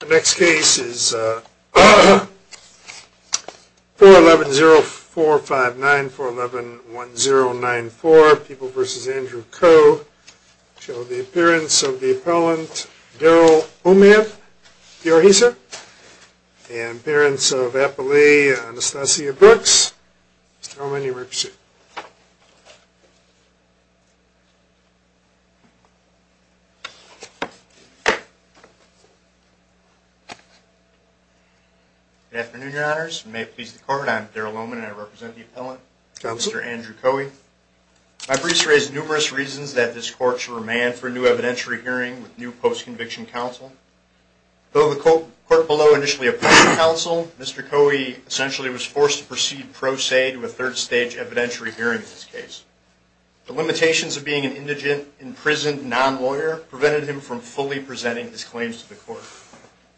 The next case is 411-0459, 411-1094, People v. Andrew Coe. Show the appearance of the appellant Daryl Omiyev, D.R. Hisa. And appearance of Appalachian Anastasia Brooks. Mr. Omiyev, you may proceed. Good afternoon, your honors. You may please the court. I'm Daryl Omiyev and I represent the appellant, Mr. Andrew Coe. My briefs raise numerous reasons that this court should remand for a new evidentiary hearing with new post-conviction counsel. Though the court below initially appointed counsel, Mr. Coe essentially was forced to proceed pro se to a third-stage evidentiary hearing in this case. The limitations of being an indigent, imprisoned non-lawyer prevented him from fully presenting his claims to the court.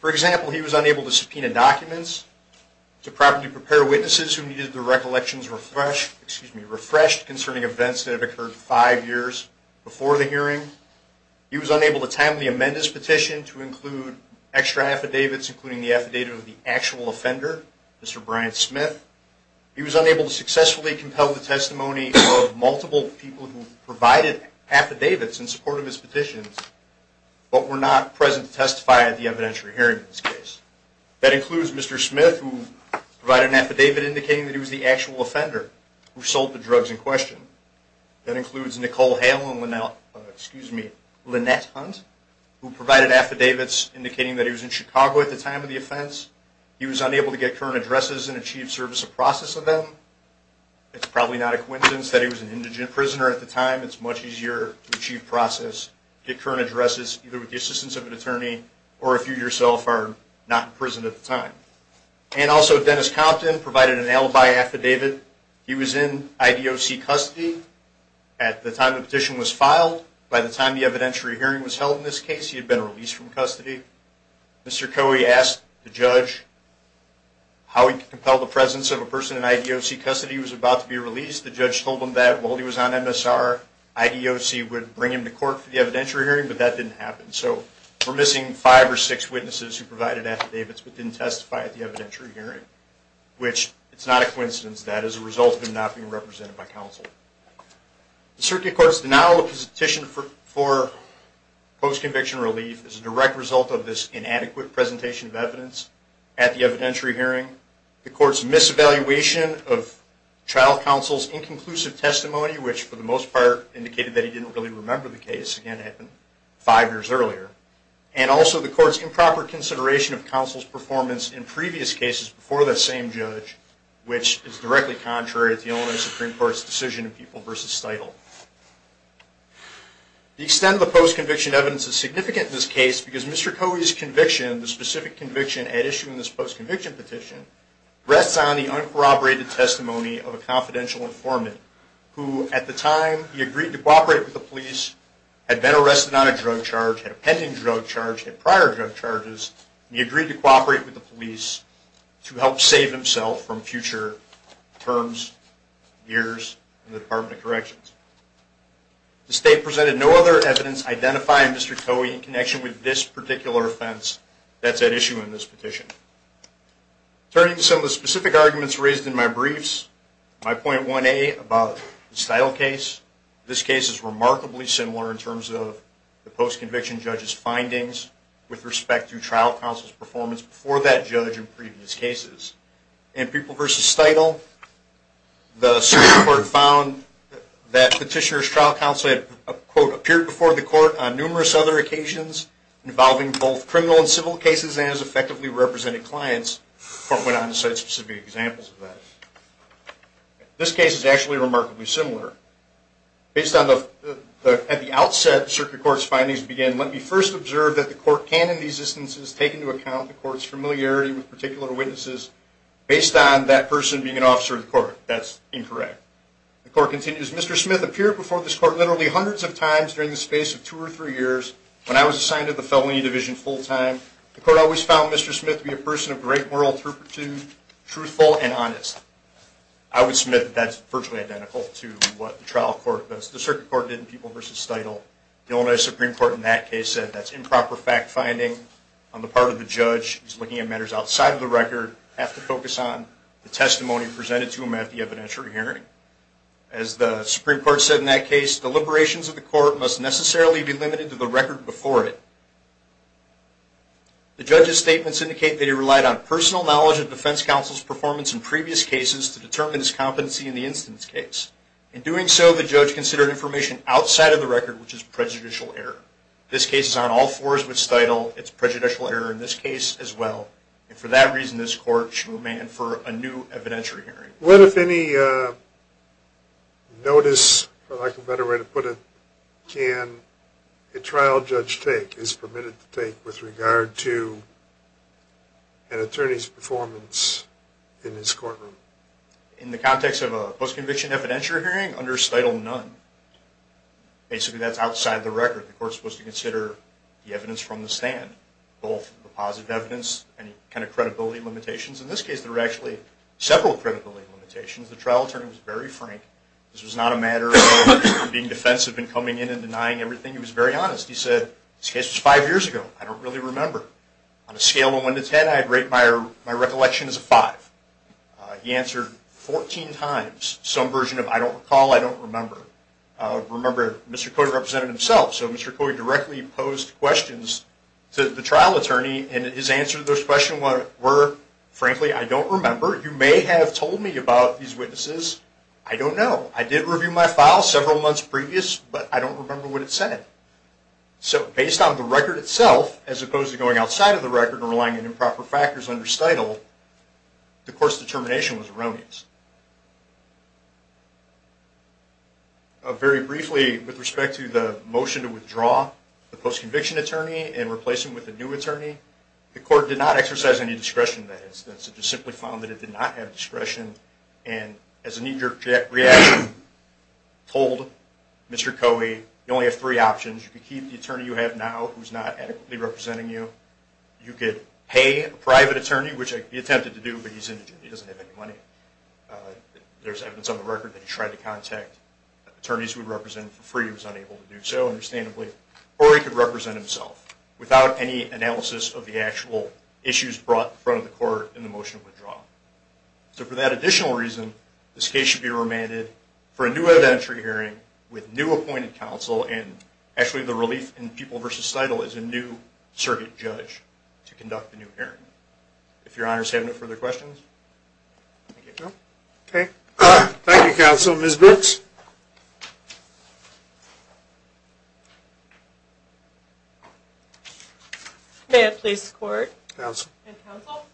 For example, he was unable to subpoena documents to properly prepare witnesses who needed their recollections refreshed concerning events that had occurred five years before the hearing. He was unable to timely amend his petition to include extra affidavits, including the affidavit of the actual offender, Mr. Brian Smith. He was unable to successfully compel the testimony of multiple people who provided affidavits in support of his petitions but were not present to testify at the evidentiary hearing in this case. That includes Mr. Smith, who provided an affidavit indicating that he was the actual offender who sold the drugs in question. That includes Nicole Hale and Lynette Hunt, who provided affidavits indicating that he was in Chicago at the time of the offense. He was unable to get current addresses and achieve service or process of them. It's probably not a coincidence that he was an indigent prisoner at the time. It's much easier to achieve process, get current addresses, either with the assistance of an attorney, or if you yourself are not in prison at the time. And also Dennis Compton provided an alibi affidavit. He was in IDOC custody at the time the petition was filed. By the time the evidentiary hearing was held in this case, he had been released from custody. Mr. Coey asked the judge how he could compel the presence of a person in IDOC custody. He was about to be released. The judge told him that while he was on MSR, IDOC would bring him to court for the evidentiary hearing, but that didn't happen. So we're missing five or six witnesses who provided affidavits but didn't testify at the evidentiary hearing, which it's not a coincidence that is a result of him not being represented by counsel. The Circuit Court's denial of his petition for post-conviction relief is a direct result of this inadequate presentation of evidence at the evidentiary hearing. The court's mis-evaluation of child counsel's inconclusive testimony, which for the most part indicated that he didn't really remember the case, again, it happened five years earlier. And also the court's improper consideration of counsel's performance in previous cases before that same judge, which is directly contrary to Illinois Supreme Court's decision in People v. Steudle. The extent of the post-conviction evidence is significant in this case because Mr. Covey's conviction, the specific conviction at issuing this post-conviction petition, rests on the uncorroborated testimony of a confidential informant who, at the time he agreed to cooperate with the police, had been arrested on a drug charge, had a pending drug charge, had prior drug charges, and he agreed to cooperate with the police to help save himself from future terms, years in the Department of Corrections. The state presented no other evidence identifying Mr. Covey in connection with this particular offense that's at issue in this petition. Turning to some of the specific arguments raised in my briefs, my point 1A about the Steudle case, this case is remarkably similar in terms of the post-conviction judge's findings with respect to child counsel's performance before that judge in previous cases. In People v. Steudle, the circuit court found that petitioner's child counsel had, quote, appeared before the court on numerous other occasions involving both criminal and civil cases and has effectively represented clients. The court went on to cite specific examples of that. This case is actually remarkably similar. Based on the, at the outset, the circuit court's findings began, let me first observe that the court can in these instances take into account the court's familiarity with particular witnesses based on that person being an officer of the court. That's incorrect. The court continues, Mr. Smith appeared before this court literally hundreds of times during the space of two or three years. When I was assigned to the felony division full-time, the court always found Mr. Smith to be a person of great moral truthful and honest. I would submit that that's virtually identical to what the trial court does. The circuit court did in People v. Steudle. The Illinois Supreme Court in that case said that's improper fact finding on the part of the judge who's looking at matters outside of the record have to focus on the testimony presented to him at the evidentiary hearing. As the Supreme Court said in that case, deliberations of the court must necessarily be limited to the record before it. The judge's statements indicate that he relied on personal knowledge of defense counsel's performance in previous cases to determine his competency in the instance case. In doing so, the judge considered information outside of the record, which is prejudicial error. This case is on all fours with Steudle. It's prejudicial error in this case as well. For that reason, this court should demand for a new evidentiary hearing. What, if any, notice, or like a better way to put it, can a trial judge take, is permitted to take, with regard to an attorney's performance in this courtroom? In the context of a post-conviction evidentiary hearing, under Steudle, none. Basically, that's outside the record. The court's supposed to consider the evidence from the stand, both the positive evidence and any kind of credibility limitations. In this case, there were actually several credibility limitations. The trial attorney was very frank. This was not a matter of being defensive and coming in and denying everything. He was very honest. He said, this case was five years ago. I don't really remember. On a scale of one to ten, I'd rate my recollection as a five. He answered 14 times some version of, I don't recall, I don't remember. Remember, Mr. Coyd represented himself, so Mr. Coyd directly posed questions to the trial attorney, and his answer to those questions were, frankly, I don't remember. You may have told me about these witnesses. I don't know. I did review my file several months previous, but I don't remember what it said. So, based on the record itself, as opposed to going outside of the record and relying on improper factors under stitle, the court's determination was erroneous. Very briefly, with respect to the motion to withdraw the post-conviction attorney and replace him with a new attorney, the court did not exercise any discretion in that instance. It just simply found that it did not have discretion, and as a knee-jerk reaction, told Mr. Coyd, you only have three options. You can keep the attorney you have now, who's not adequately representing you. You could pay a private attorney, which he attempted to do, but he doesn't have any money. There's evidence on the record that he tried to contact attorneys he would represent for free. He was unable to do so, understandably. Or he could represent himself without any analysis of the actual issues brought to the court in the motion to withdraw. So, for that additional reason, this case should be remanded for a new evidentiary hearing with new appointed counsel, and actually the relief in People v. Stitle is a new circuit judge to conduct the new hearing. If your honors have no further questions, thank you. Okay. Thank you, counsel. Ms. Brooks? May it please the court? Counsel. And counsel,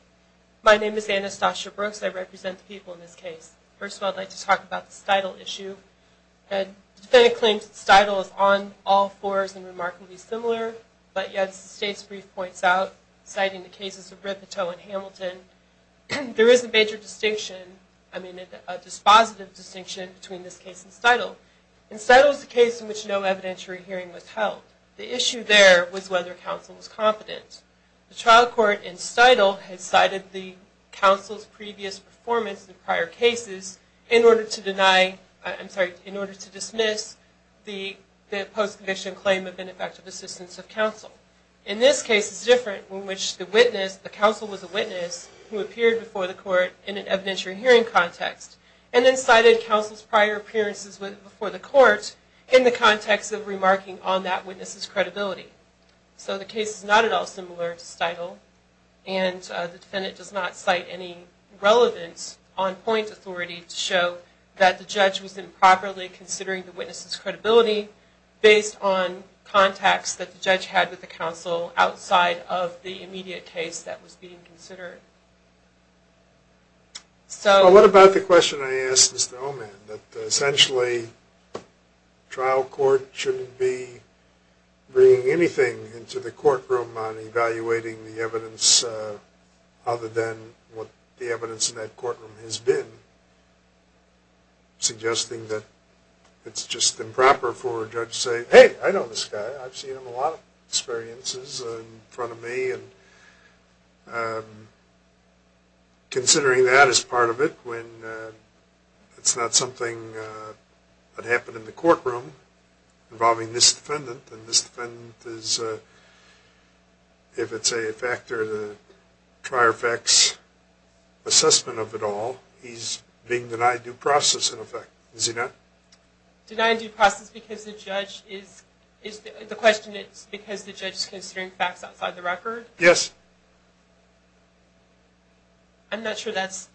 my name is Anastasia Brooks. I represent the people in this case. First of all, I'd like to talk about the Stitle issue. The defendant claims that Stitle is on all fours and remarkably similar, but as the state's brief points out, citing the cases of Ripito and Hamilton, there is a major distinction, I mean, a dispositive distinction between this case and Stitle. And Stitle is a case in which no evidentiary hearing was held. The issue there was whether counsel was confident. The trial court in Stitle had cited the counsel's previous performance in prior cases in order to deny, I'm sorry, in order to dismiss the post-conviction claim of ineffective assistance of counsel. In this case, it's different, in which the counsel was a witness who appeared before the court in an evidentiary hearing context and then cited counsel's prior appearances before the court in the context of remarking on that witness's credibility. So the case is not at all similar to Stitle, and the defendant does not cite any relevance on point authority to show that the judge was improperly considering the witness's credibility based on contacts that the judge had with the counsel outside of the immediate case that was being considered. Well, what about the question I asked Mr. Oman, that essentially the trial court shouldn't be bringing anything into the courtroom on evaluating the evidence other than what the evidence in that courtroom has been, suggesting that it's just improper for a judge to say, hey, I know this guy, I've seen him a lot of experiences in front of me, and considering that as part of it, when it's not something that happened in the courtroom involving this defendant, and this defendant is, if it's a factor of the prior effect's assessment of it all, he's being denied due process in effect, is he not? Denied due process because the judge is, the question is because the judge is considering facts outside the record? Yes. I'm not sure that's...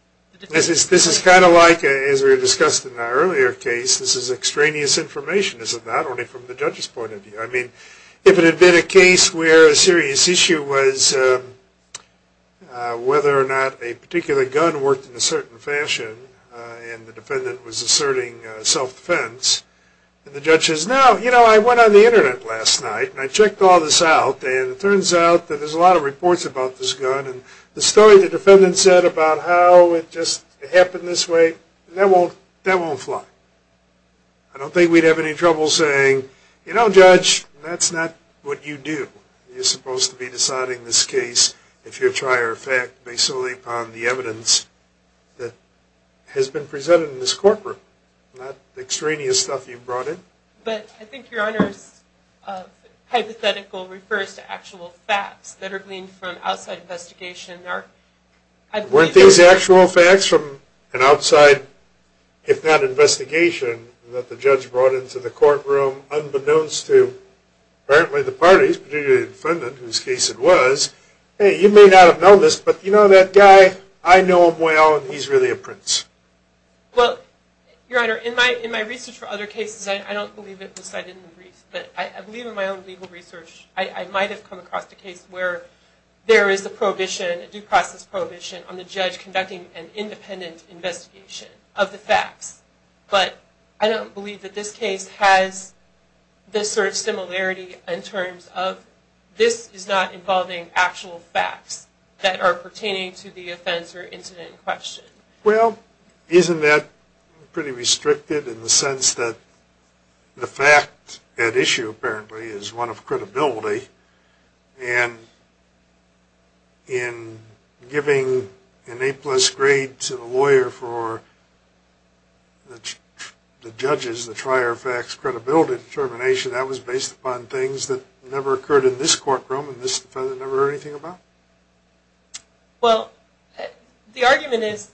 This is kind of like, as we discussed in our earlier case, this is extraneous information, not only from the judge's point of view. I mean, if it had been a case where a serious issue was whether or not a particular gun worked in a certain fashion, and the defendant was asserting self-defense, and the judge says, no, you know, I went on the internet last night, and I checked all this out, and it turns out that there's a lot of reports about this gun, and the story the defendant said about how it just happened this way, that won't fly. I don't think we'd have any trouble saying, you know, judge, that's not what you do. You're supposed to be deciding this case, if you're prior effect, based solely upon the evidence that has been presented in this courtroom, not extraneous stuff you brought in. But I think your Honor's hypothetical refers to actual facts that are gleaned from outside investigation. Weren't these actual facts from an outside, if not investigation, that the judge brought into the courtroom, unbeknownst to apparently the parties, particularly the defendant, whose case it was, hey, you may not have known this, but you know that guy? I know him well, and he's really a prince. Well, your Honor, in my research for other cases, I don't believe it was cited in the brief, but I believe in my own legal research, I might have come across a case where there is a prohibition, a due process prohibition, on the judge conducting an independent investigation of the facts. But I don't believe that this case has this sort of similarity, in terms of this is not involving actual facts that are pertaining to the offense or incident in question. Well, isn't that pretty restricted in the sense that the fact at issue, apparently, is one of credibility, and in giving an A-plus grade to the lawyer for the judge's, the prior effect's, credibility determination, that was based upon things that never occurred in this courtroom, and this defendant never heard anything about? Well, the argument is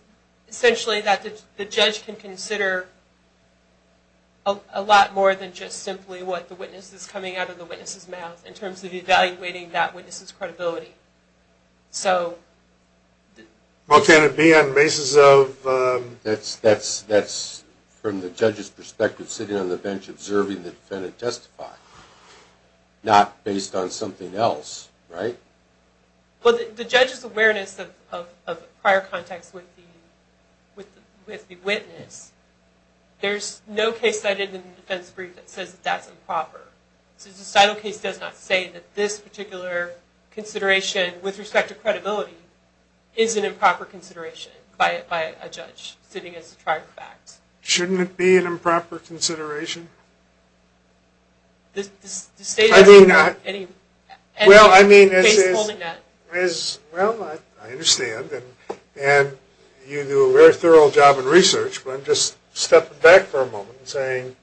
essentially that the judge can consider a lot more than just simply what the witness is coming out of the witness's mouth, in terms of evaluating that witness's credibility. So... Well, can it be on the basis of... That's, from the judge's perspective, sitting on the bench observing the defendant testify, not based on something else, right? Well, the judge's awareness of prior contacts with the witness, there's no case cited in the defense brief that says that that's improper. So the cital case does not say that this particular consideration, with respect to credibility, is an improper consideration by a judge, sitting as a prior fact. Shouldn't it be an improper consideration? I do not... Well, I mean, as is... Well, I understand, and you do a very thorough job in research, but I'm just stepping back for a moment and saying...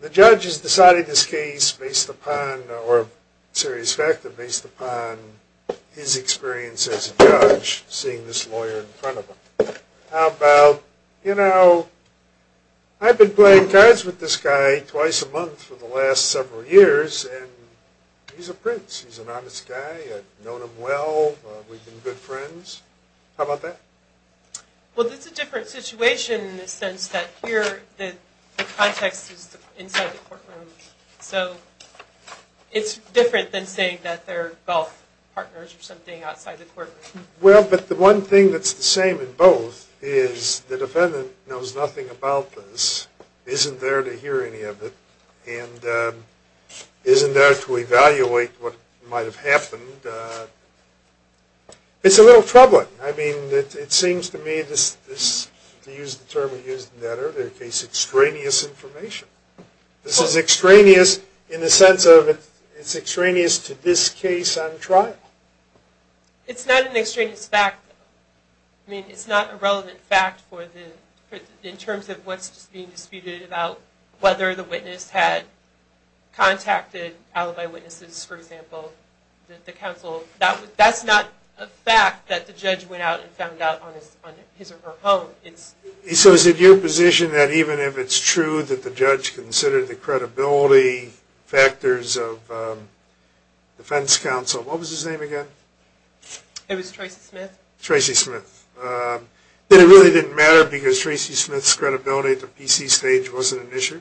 The judge has decided this case based upon, or a serious factor based upon, his experience as a judge, seeing this lawyer in front of him. How about, you know, I've been playing cards with this guy twice a month for the last several years, and he's a prince, he's an honest guy, I've known him well, we've been good friends. How about that? Well, that's a different situation in the sense that here the context is inside the courtroom. So it's different than saying that they're golf partners or something outside the courtroom. Well, but the one thing that's the same in both is the defendant knows nothing about this, isn't there to hear any of it, and isn't there to evaluate what might have happened. And it's a little troubling. I mean, it seems to me, to use the term we used in that earlier case, extraneous information. This is extraneous in the sense of it's extraneous to this case on trial. It's not an extraneous fact. I mean, it's not a relevant fact in terms of what's being disputed about whether the witness had contacted alibi witnesses, for example, the counsel. That's not a fact that the judge went out and found out on his or her own. So is it your position that even if it's true that the judge considered the credibility factors of defense counsel, what was his name again? It was Tracy Smith. Tracy Smith. That it really didn't matter because Tracy Smith's credibility at the PC stage wasn't an issue?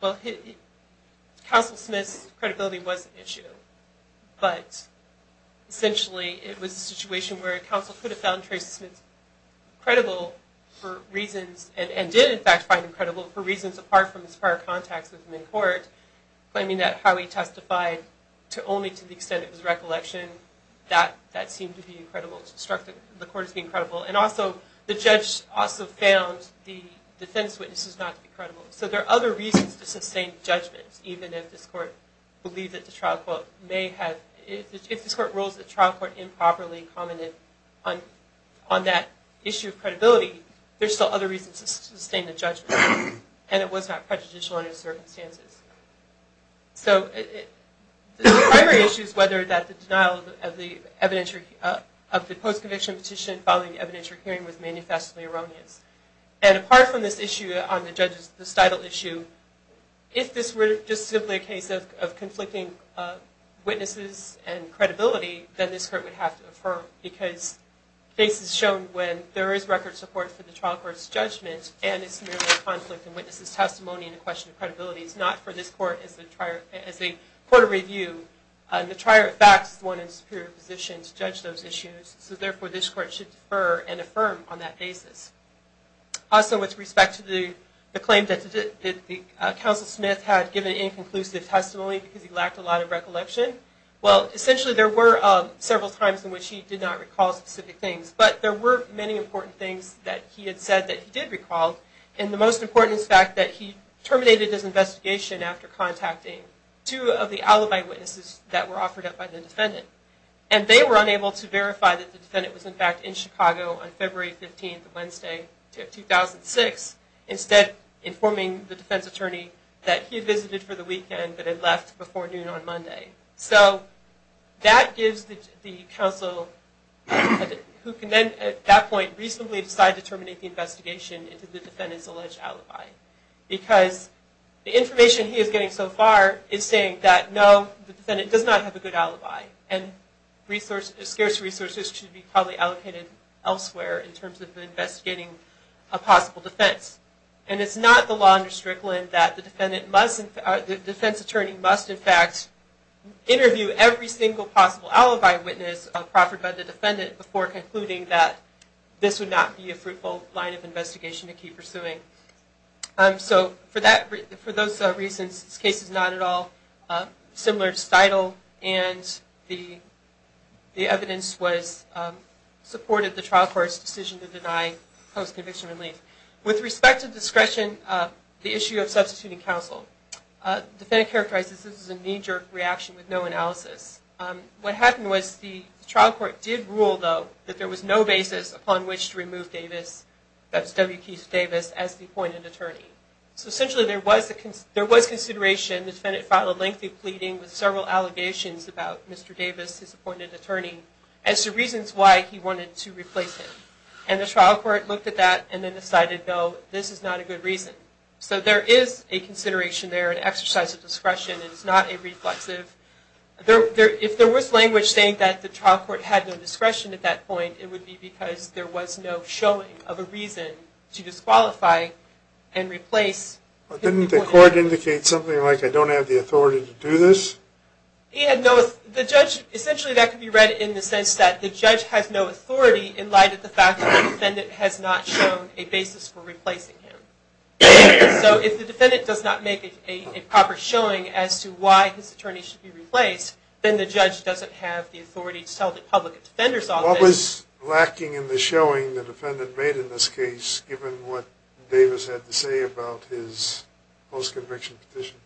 Well, counsel Smith's credibility was an issue, but essentially it was a situation where a counsel could have found Tracy Smith credible for reasons, and did in fact find him credible for reasons apart from his prior contacts with him in court, claiming that how he testified only to the extent it was a recollection. That seemed to be incredible. It struck the court as being credible. And also, the judge also found the defense witnesses not to be credible. So there are other reasons to sustain judgments, even if this court believes that the trial court may have – if this court rules that the trial court improperly commented on that issue of credibility, there are still other reasons to sustain the judgment, and it was not prejudicial under the circumstances. So the primary issue is whether the denial of the evidence of the post-conviction petition following the evidentiary hearing was manifestly erroneous. And apart from this issue on the judge's – this title issue, if this were just simply a case of conflicting witnesses and credibility, then this court would have to affirm, because this is shown when there is record support for the trial court's judgment, and it's merely a conflict in witnesses' testimony and a question of credibility. It's not for this court as a court of review. The trier of facts is the one in a superior position to judge those issues, so therefore this court should defer and affirm on that basis. Also, with respect to the claim that Counsel Smith had given inconclusive testimony because he lacked a lot of recollection, well, essentially there were several times in which he did not recall specific things, but there were many important things that he had said that he did recall, and the most important is the fact that he terminated his investigation after contacting two of the alibi witnesses that were offered up by the defendant. And they were unable to verify that the defendant was, in fact, in Chicago on February 15th of Wednesday, 2006, instead informing the defense attorney that he had visited for the weekend but had left before noon on Monday. So that gives the counsel who can then, at that point, reasonably decide to terminate the investigation into the defendant's alleged alibi, the defendant does not have a good alibi, and scarce resources should be probably allocated elsewhere in terms of investigating a possible defense. And it's not the law under Strickland that the defense attorney must, in fact, interview every single possible alibi witness offered by the defendant before concluding that this would not be a fruitful line of investigation to keep pursuing. So for those reasons, this case is not at all similar to Stidle, and the evidence supported the trial court's decision to deny post-conviction relief. With respect to discretion, the issue of substituting counsel, the defendant characterized this as a knee-jerk reaction with no analysis. What happened was the trial court did rule, though, that there was no basis upon which to remove Davis, that's W. Keith Davis, as the appointed attorney. So essentially there was consideration. The defendant filed a lengthy pleading with several allegations about Mr. Davis, his appointed attorney, as to reasons why he wanted to replace him. And the trial court looked at that and then decided, no, this is not a good reason. So there is a consideration there, an exercise of discretion. It is not a reflexive. If there was language saying that the trial court had no discretion at that point, it would be because there was no showing of a reason to disqualify and replace. Didn't the court indicate something like, I don't have the authority to do this? Essentially that could be read in the sense that the judge has no authority in light of the fact that the defendant has not shown a basis for replacing him. So if the defendant does not make a proper showing as to why his attorney should be replaced, then the judge doesn't have the authority to tell the public defender's office. What was lacking in the showing the defendant made in this case, given what Davis had to say about his post-conviction petition?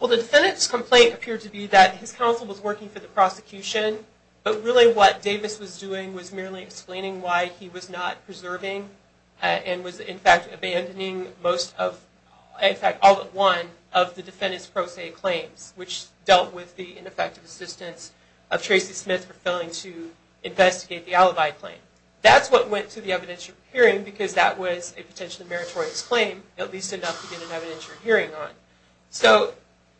Well, the defendant's complaint appeared to be that his counsel was working for the prosecution, but really what Davis was doing was merely explaining why he was not preserving and was, in fact, abandoning most of, in fact, all but one of the defendant's pro se claims, which dealt with the ineffective assistance of Tracy Smith for failing to investigate the alibi claim. That's what went to the evidentiary hearing, because that was a potentially meritorious claim, at least enough to get an evidentiary hearing on. So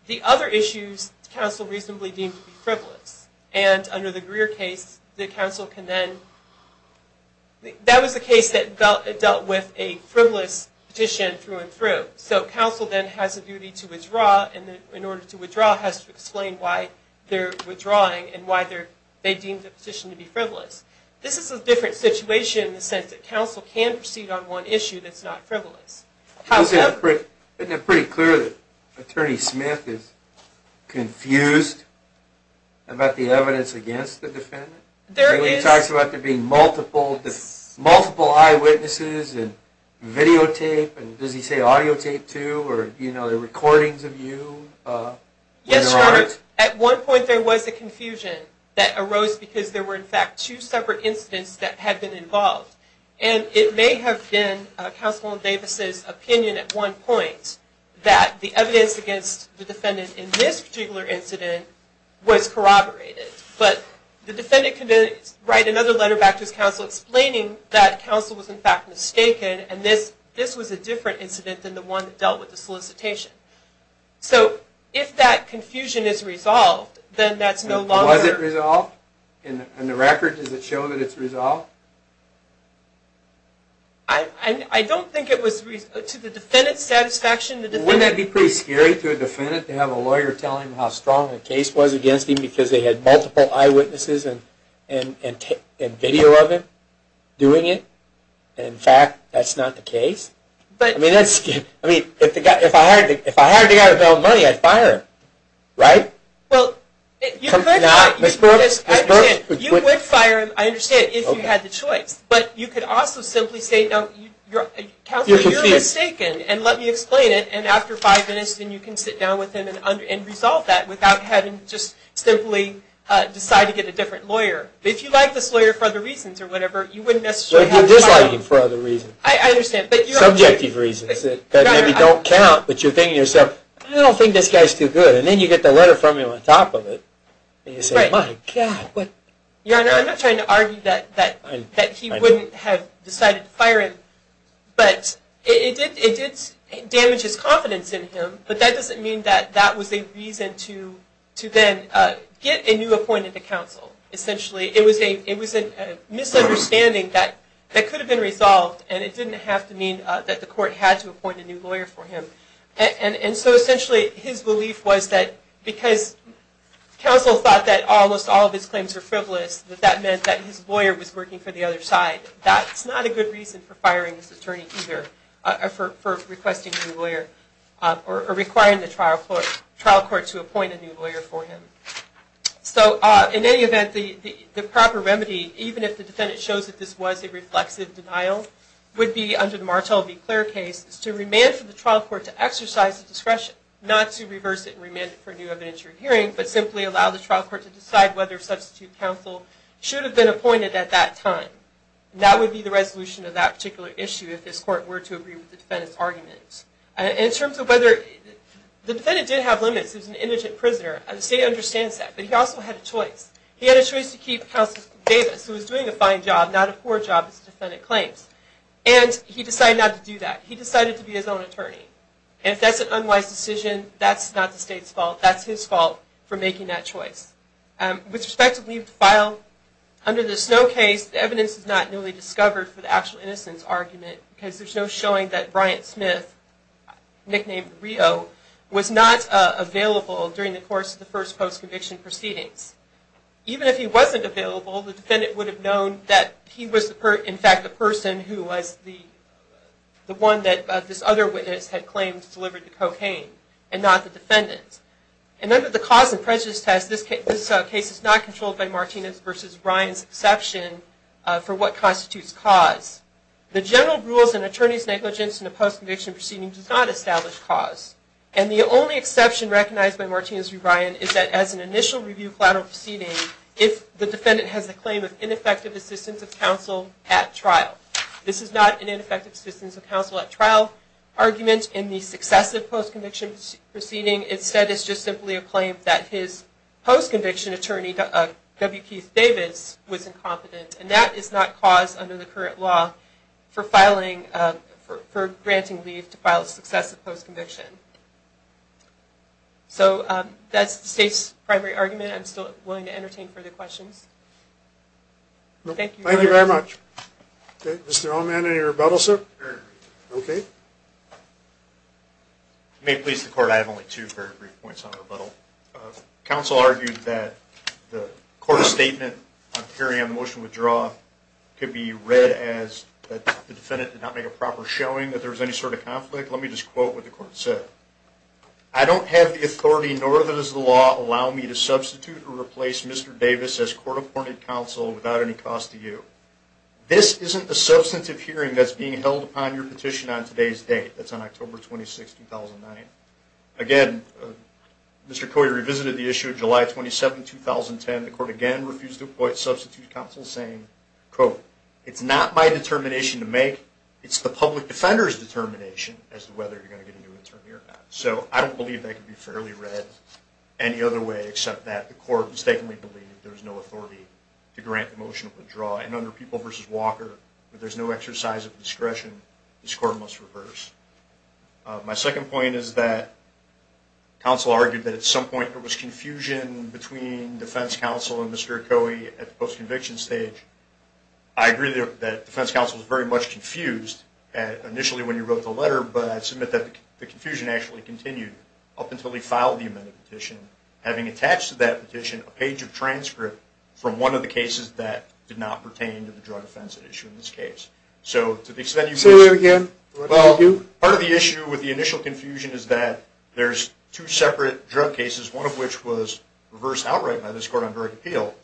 the other issues counsel reasonably deemed to be frivolous, and under the Greer case, the counsel can then... That was a case that dealt with a frivolous petition through and through. So counsel then has a duty to withdraw, and in order to withdraw has to explain why they're withdrawing and why they deemed the petition to be frivolous. This is a different situation in the sense that counsel can proceed on one issue that's not frivolous. Isn't it pretty clear that Attorney Smith is confused about the evidence against the defendant? He talks about there being multiple eyewitnesses and videotape, and does he say audiotape too, or the recordings of you? Yes, Your Honor. At one point there was a confusion that arose because there were, in fact, two separate incidents that had been involved. And it may have been counsel Davis's opinion at one point that the evidence against the defendant in this particular incident was corroborated. But the defendant can then write another letter back to his counsel explaining that counsel was in fact mistaken and this was a different incident than the one that dealt with the solicitation. So if that confusion is resolved, then that's no longer... Was it resolved? In the record, does it show that it's resolved? I don't think it was... To the defendant's satisfaction, the defendant... Wouldn't that be pretty scary to a defendant to have a lawyer tell him how strong a case was against him because they had multiple eyewitnesses and video of him doing it? In fact, that's not the case. I mean, if I hired the guy to bail money, I'd fire him, right? Well, you could fire him, I understand, if you had the choice. But you could also simply say, no, counsel, you're mistaken, and let me explain it, and after five minutes, then you can sit down with him and resolve that without having to just simply decide to get a different lawyer. But if you like this lawyer for other reasons or whatever, you wouldn't necessarily have to fire him. You're disliking him for other reasons. I understand, but... Subjective reasons that maybe don't count, but you're thinking to yourself, I don't think this guy's too good, and then you get the letter from him on top of it. And you say, my God, what... Your Honor, I'm not trying to argue that he wouldn't have decided to fire him, but it did damage his confidence in him, but that doesn't mean that that was a reason to then get a new appointment to counsel. Essentially, it was a misunderstanding that could have been resolved, and it didn't have to mean that the court had to appoint a new lawyer for him. And so essentially, his belief was that because counsel thought that almost all of his claims were frivolous, that that meant that his lawyer was working for the other side. That's not a good reason for firing this attorney either, or for requesting a new lawyer, or requiring the trial court to appoint a new lawyer for him. So in any event, the proper remedy, even if the defendant shows that this was a reflexive denial, would be under the Martel v. Clair case, is to remand for the trial court to exercise the discretion not to reverse it and remand it for a new evidentiary hearing, but simply allow the trial court to decide whether a substitute counsel should have been appointed at that time. That would be the resolution of that particular issue if his court were to agree with the defendant's argument. In terms of whether, the defendant did have limits. He was an indigent prisoner, and the state understands that, but he also had a choice. He had a choice to keep counsel Davis, who was doing a fine job, not a poor job, as the defendant claims. And he decided not to do that. He decided to be his own attorney. And if that's an unwise decision, that's not the state's fault. That's his fault for making that choice. With respect to leave to file, under the Snow case, the evidence is not newly discovered for the actual innocence argument, because there's no showing that Bryant Smith, nicknamed Rio, was not available during the course of the first post-conviction proceedings. Even if he wasn't available, the defendant would have known that he was, in fact, the person who was the one that this other witness had claimed to have delivered the cocaine, and not the defendant. And under the cause and prejudice test, this case is not controlled by Martinez v. Bryant's exception for what constitutes cause. The general rules and attorney's negligence in a post-conviction proceeding does not establish cause. And the only exception recognized by Martinez v. Bryant is that as an initial review collateral proceeding, if the defendant has a claim of ineffective assistance of counsel at trial. This is not an ineffective assistance of counsel at trial argument in the successive post-conviction proceeding. Instead, it's just simply a claim that his post-conviction attorney, W. Keith Davis, was incompetent. And that is not cause under the current law for granting leave to file a successive post-conviction. So that's the state's primary argument. I'm still willing to entertain further questions. Thank you. Thank you very much. Okay. Mr. Allman, any rebuttal, sir? I have no rebuttal. Okay. If you may please, the court, I have only two very brief points on rebuttal. Counsel argued that the court's statement on carrying on the motion to withdraw could be read as that the defendant did not make a proper showing that there was any sort of conflict. Let me just quote what the court said. I don't have the authority, nor does the law, allow me to substitute or replace Mr. Davis as court-appointed counsel without any cost to you. This isn't the substantive hearing that's being held upon your petition on today's date. That's on October 26, 2009. Again, Mr. Coyer revisited the issue of July 27, 2010. The court again refused to appoint substitute counsel, saying, quote, It's not my determination to make. It's the public defender's determination as to whether you're going to get a new attorney or not. So I don't believe that could be fairly read any other way except that the court mistakenly believed there was no authority to grant the motion to withdraw. And under People v. Walker, where there's no exercise of discretion, this court must reverse. My second point is that counsel argued that at some point there was confusion between defense counsel and Mr. Coyer at the post-conviction stage. I agree that defense counsel was very much confused initially when he wrote the letter, but I submit that the confusion actually continued up until he filed the amended petition, having attached to that petition a page of transcript from one of the cases that did not pertain to the drug offense at issue in this case. So to the extent you can... Say that again. Well, part of the issue with the initial confusion is that there's two separate drug cases, one of which was reversed outright by this Court on Drug Appeal,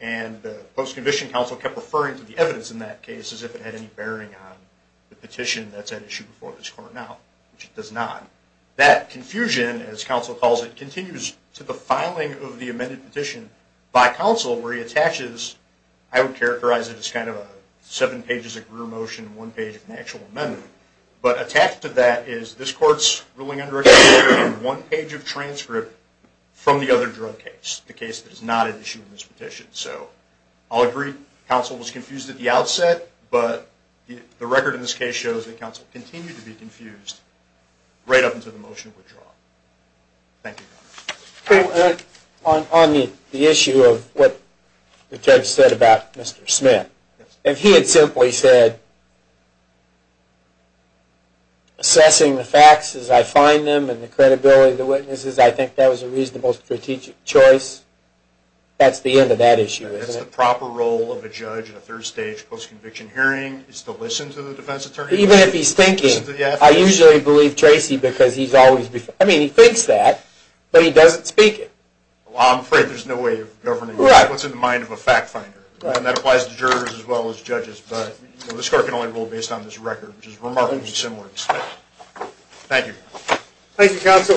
and the post-conviction counsel kept referring to the evidence in that case as if it had any bearing on the petition that's at issue before this Court now, which it does not. That confusion, as counsel calls it, continues to the filing of the amended petition by counsel where he attaches, I would characterize it as kind of seven pages of career motion, one page of an actual amendment. But attached to that is this Court's ruling under a case where one page of transcript from the other drug case, the case that is not at issue in this petition. So I'll agree counsel was confused at the outset, but the record in this case shows that counsel continued to be confused right up until the motion was drawn. Thank you, Your Honor. On the issue of what the judge said about Mr. Smith, if he had simply said, assessing the facts as I find them and the credibility of the witnesses, I think that was a reasonable strategic choice, that's the end of that issue, isn't it? That's the proper role of a judge in a third-stage post-conviction hearing is to listen to the defense attorney. Even if he's thinking, I usually believe Tracy because he thinks that, but he doesn't speak it. Well, I'm afraid there's no way of governing what's in the mind of a fact finder, and that applies to jurors as well as judges, but this Court can only rule based on this record, which is remarkably similar to this case. Thank you. Thank you, counsel.